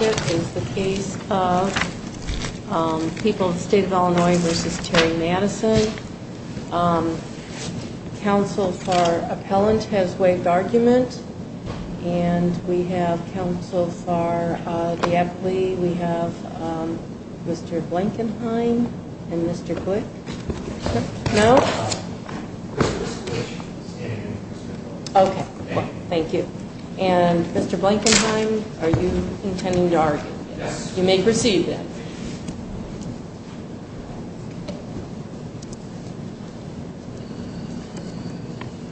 is the case of People of the State of Illinois v. Terry Madison. Council for Appellant has waived argument. And we have Council for the Aptly, we have Mr. Blankenheim and Mr. Glick. And Mr. Blankenheim, are you intending to argue? Yes. You may proceed then.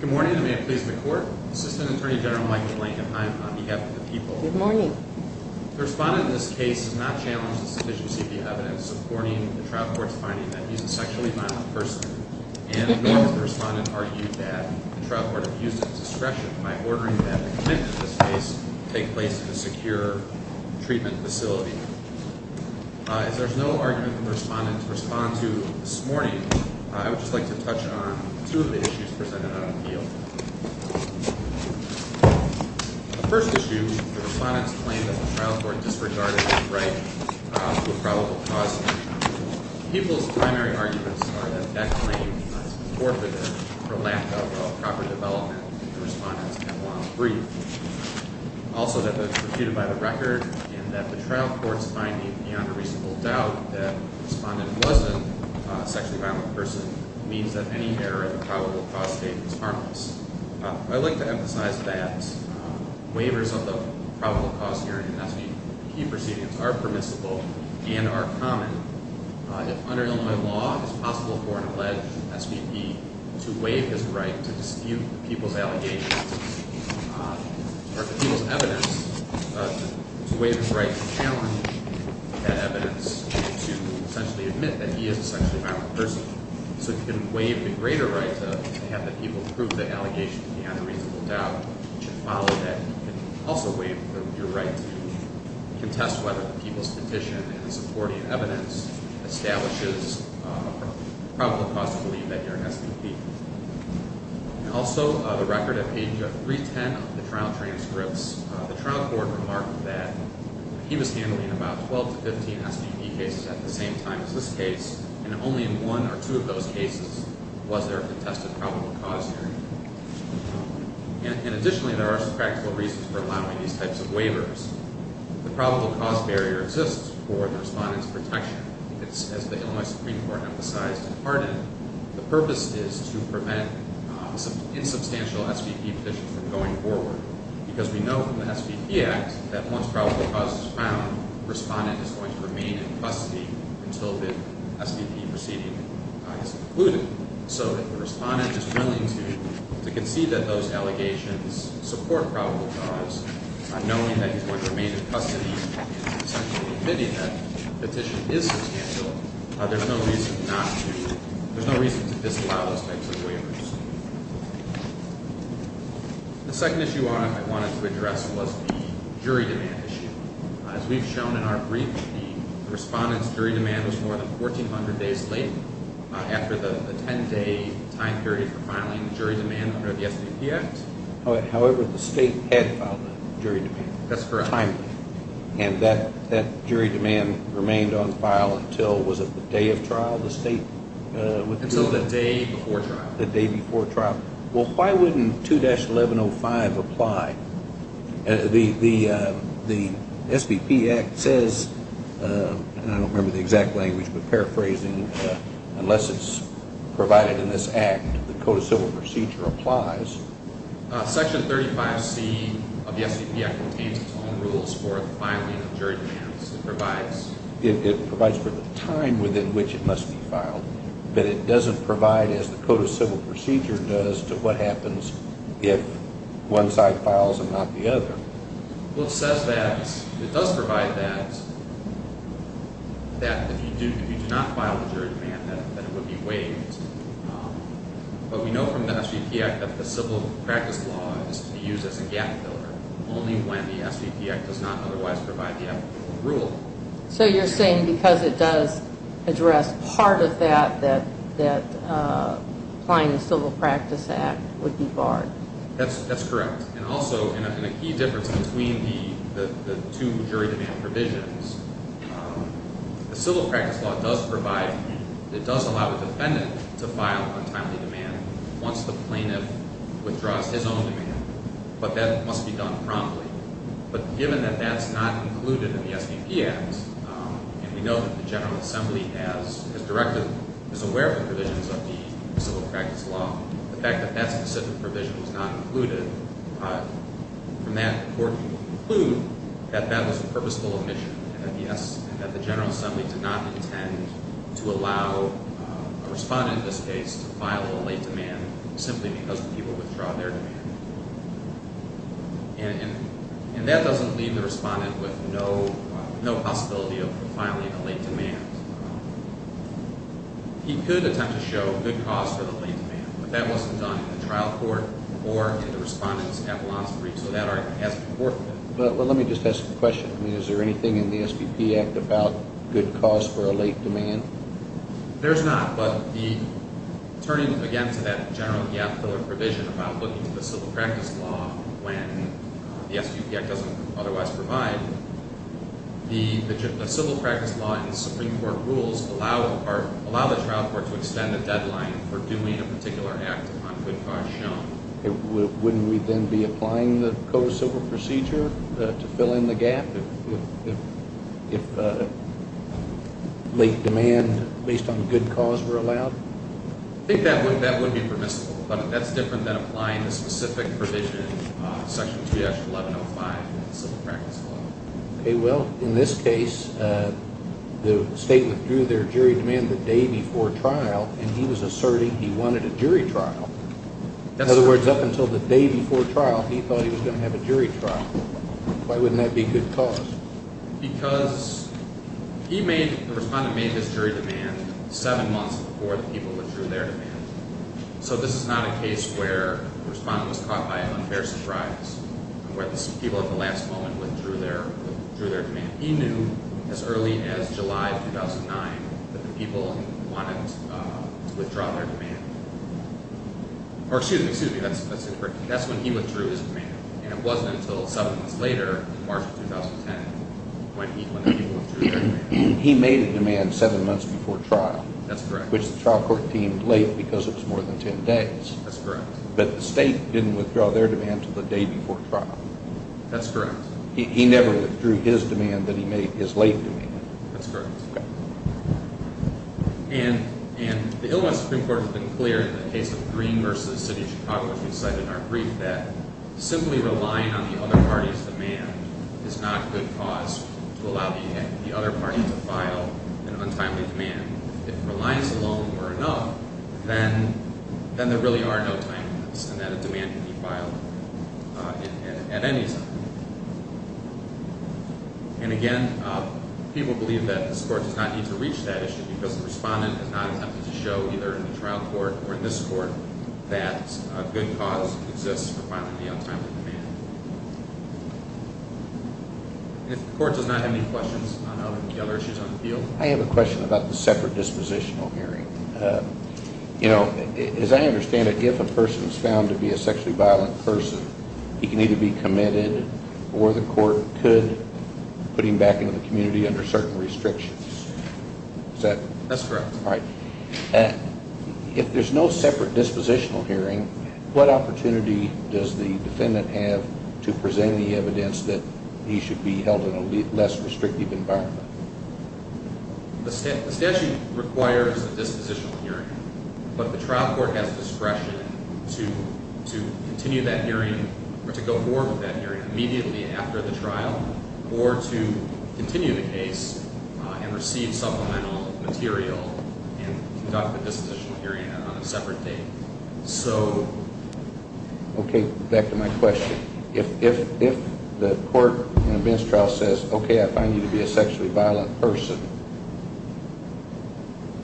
Good morning, and may it please the Court. Assistant Attorney General Michael Blankenheim on behalf of the people. Good morning. The respondent in this case has not challenged the sufficiency of the evidence supporting the trial court's finding that he's a sexually violent person. And the respondent argued that the trial court abused its discretion by ordering that the commitment to this case take place in a secure treatment facility. As there's no argument for the respondent to respond to this morning, I would just like to touch on two of the issues presented on appeal. The first issue, the respondent's claim that the trial court disregarded his right to a probable cause statement. People's primary arguments are that that claim is forfeited for lack of a proper development that the respondent can long breathe. Also that it's refuted by the record and that the trial court's finding beyond a reasonable doubt that the respondent wasn't a sexually violent person means that any error in the probable cause statement is harmless. I'd like to emphasize that waivers of the probable cause hearing and SVP proceedings are permissible and are common. If under Illinois law, it's possible for an alleged SVP to waive his right to dispute the people's allegations or the people's evidence to waive his right to challenge that evidence to essentially admit that he is a sexually violent person. So if you can waive the greater right to have the people prove the allegation beyond a reasonable doubt, you should follow that. You can also waive your right to contest whether the people's petition in supporting evidence establishes a probable cause to believe that you're an SVP. Also, the record at page 310 of the trial transcripts, the trial court remarked that he was handling about 12 to 15 SVP cases at the same time as this case and only in one or two of those cases was there a contested probable cause hearing. Additionally, there are some practical reasons for allowing these types of waivers. The probable cause barrier exists for the respondent's protection. As the Illinois Supreme Court emphasized in Hardin, the purpose is to prevent insubstantial SVP petitions from going forward because we know from the SVP Act that once probable cause is found, the respondent is going to remain in custody until the SVP proceeding is concluded. So if the respondent is willing to concede that those allegations support probable cause, knowing that he's going to remain in custody and essentially admitting that the petition is substantial, there's no reason to disallow those types of waivers. The second issue I wanted to address was the jury demand issue. As we've shown in our brief, the respondent's jury demand was more than 1,400 days late after the 10-day time period for filing jury demand under the SVP Act. However, the state had filed the jury demand. That's correct. And that jury demand remained on file until, was it the day of trial, the state? Until the day before trial. The day before trial. Well, why wouldn't 2-1105 apply? The SVP Act says, and I don't remember the exact language, but paraphrasing, unless it's provided in this Act, the Code of Civil Procedure applies. Section 35C of the SVP Act contains its own rules for filing jury demands. It provides for the time within which it must be filed, but it doesn't provide, as the Code of Civil Procedure does, to what happens if one side files and not the other. Well, it says that it does provide that if you do not file the jury demand, that it would be waived. But we know from the SVP Act that the civil practice law is to be used as a gap filler only when the SVP Act does not otherwise provide the applicable rule. So you're saying because it does address part of that, that applying the Civil Practice Act would be barred. That's correct. And also, in a key difference between the two jury demand provisions, the civil practice law does provide, it does allow the defendant to file untimely demand once the plaintiff withdraws his own demand. But that must be done promptly. But given that that's not included in the SVP Act, and we know that the General Assembly has directed, is aware of the provisions of the civil practice law, the fact that that specific provision was not included from that report would conclude that that was a purposeful omission and that, yes, that the General Assembly did not intend to allow a respondent in this case to file a late demand simply because the people withdrew their demand. And that doesn't leave the respondent with no possibility of filing a late demand. He could attempt to show good cause for the late demand, but that wasn't done in the trial court or in the respondent's avalanche brief, so that argument hasn't been worked with. Well, let me just ask a question. I mean, is there anything in the SVP Act about good cause for a late demand? There's not, but turning again to that general gap filler provision about looking at the civil practice law when the SVP Act doesn't otherwise provide, the civil practice law and the Supreme Court rules allow the trial court to extend a deadline for doing a particular act upon good cause shown. Wouldn't we then be applying the Code of Civil Procedure to fill in the gap if late demand based on good cause were allowed? I think that would be permissible, but that's different than applying the specific provision, Section 3-1105 in the civil practice law. Okay, well, in this case, the state withdrew their jury demand the day before trial, and he was asserting he wanted a jury trial. In other words, up until the day before trial, he thought he was going to have a jury trial. Why wouldn't that be good cause? Because he made, the respondent made his jury demand seven months before the people withdrew their demand. So this is not a case where the respondent was caught by an unfair surprise and where the people at the last moment withdrew their demand. He knew as early as July of 2009 that the people wanted to withdraw their demand. Or excuse me, that's incorrect. That's when he withdrew his demand, and it wasn't until seven months later in March of 2010 when the people withdrew their demand. He made a demand seven months before trial. That's correct. Which the trial court deemed late because it was more than ten days. That's correct. But the state didn't withdraw their demand until the day before trial. That's correct. He never withdrew his demand that he made, his late demand. That's correct. And the Illinois Supreme Court has been clear in the case of Green v. City of Chicago, which we cite in our brief, that simply relying on the other party's demand is not good cause to allow the other party to file an untimely demand. If reliance alone were enough, then there really are no timeliness and that a demand can be filed at any time. And again, people believe that this Court does not need to reach that issue because the respondent has not attempted to show either in the trial court or in this court that a good cause exists for filing the untimely demand. If the Court does not have any questions on the other issues on the field. I have a question about the separate dispositional hearing. You know, as I understand it, if a person is found to be a sexually violent person, he can either be committed or the Court could put him back into the community under certain restrictions. Is that correct? That's correct. All right. If there's no separate dispositional hearing, what opportunity does the defendant have to present the evidence that he should be held in a less restrictive environment? The statute requires a dispositional hearing, but the trial court has discretion to continue that hearing or to go forward with that hearing immediately after the trial or to continue the case and receive supplemental material and conduct a dispositional hearing on a separate date. Okay, back to my question. If the court in a bench trial says, okay, I find you to be a sexually violent person,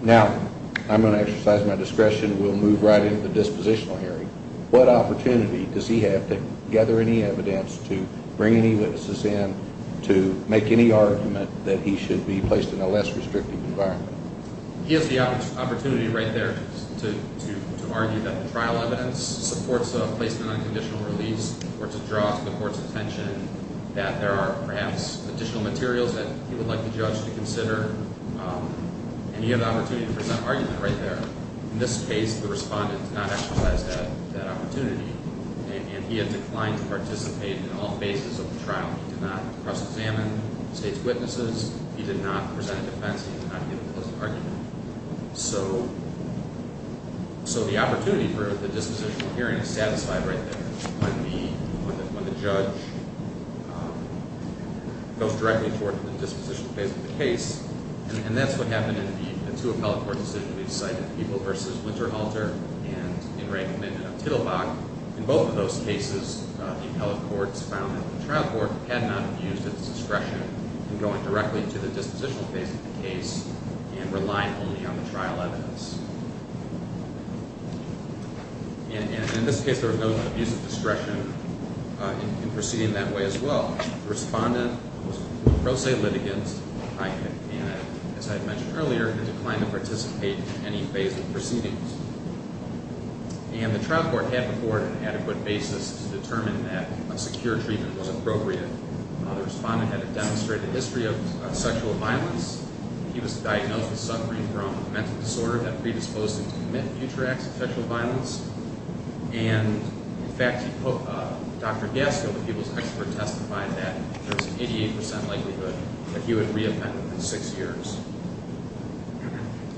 now I'm going to exercise my discretion. We'll move right into the dispositional hearing. What opportunity does he have to gather any evidence, to bring any witnesses in, to make any argument that he should be placed in a less restrictive environment? He has the opportunity right there to argue that the trial evidence supports a placement on conditional release or to draw to the court's attention that there are perhaps additional materials that he would like the judge to consider, and he has the opportunity to present an argument right there. In this case, the respondent did not exercise that opportunity, and he had declined to participate in all phases of the trial. He did not press examine state's witnesses. He did not present a defense. He did not give a pleasant argument. So the opportunity for the dispositional hearing is satisfied right there when the judge goes directly toward the dispositional phase of the case, and that's what happened in the two appellate court decisions we've cited, People v. Winterhalter and In Re Commendant of Tittlebach. In both of those cases, the appellate court's found that the trial court had not abused its discretion in going directly to the dispositional phase of the case and relying only on the trial evidence. And in this case, there was no abuse of discretion in proceeding that way as well. The respondent was a pro se litigant, and as I had mentioned earlier, had declined to participate in any phase of proceedings. And the trial court had before it an adequate basis to determine that a secure treatment was appropriate. The respondent had a demonstrated history of sexual violence. He was diagnosed with suffering from a mental disorder that predisposed him to commit future acts of sexual violence. And, in fact, Dr. Gaskill, the people's expert, testified that there was an 88 percent likelihood that he would re-append within six years.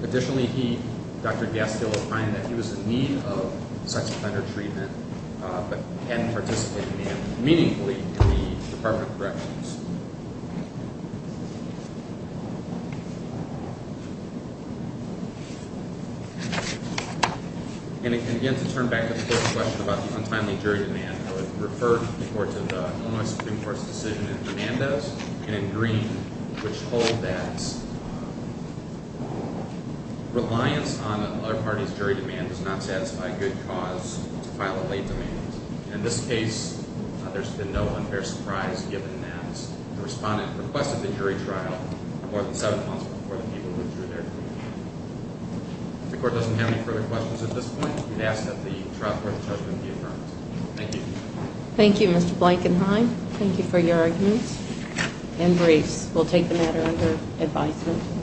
Additionally, Dr. Gaskill was finding that he was in need of sex offender treatment but hadn't participated in it meaningfully in the Department of Corrections. And again, to turn back to the first question about the untimely jury demand, I would refer the court to the Illinois Supreme Court's decision in Hernandez and in Green which hold that reliance on another party's jury demand does not satisfy good cause to file a late demand. In this case, there's been no unfair surprise given that the respondent requested the jury trial more than seven months before the people withdrew their claim. If the court doesn't have any further questions at this point, we'd ask that the trial court's judgment be affirmed. Thank you. Thank you, Mr. Blankenheim. Thank you for your arguments and briefs. We'll take the matter under advisement.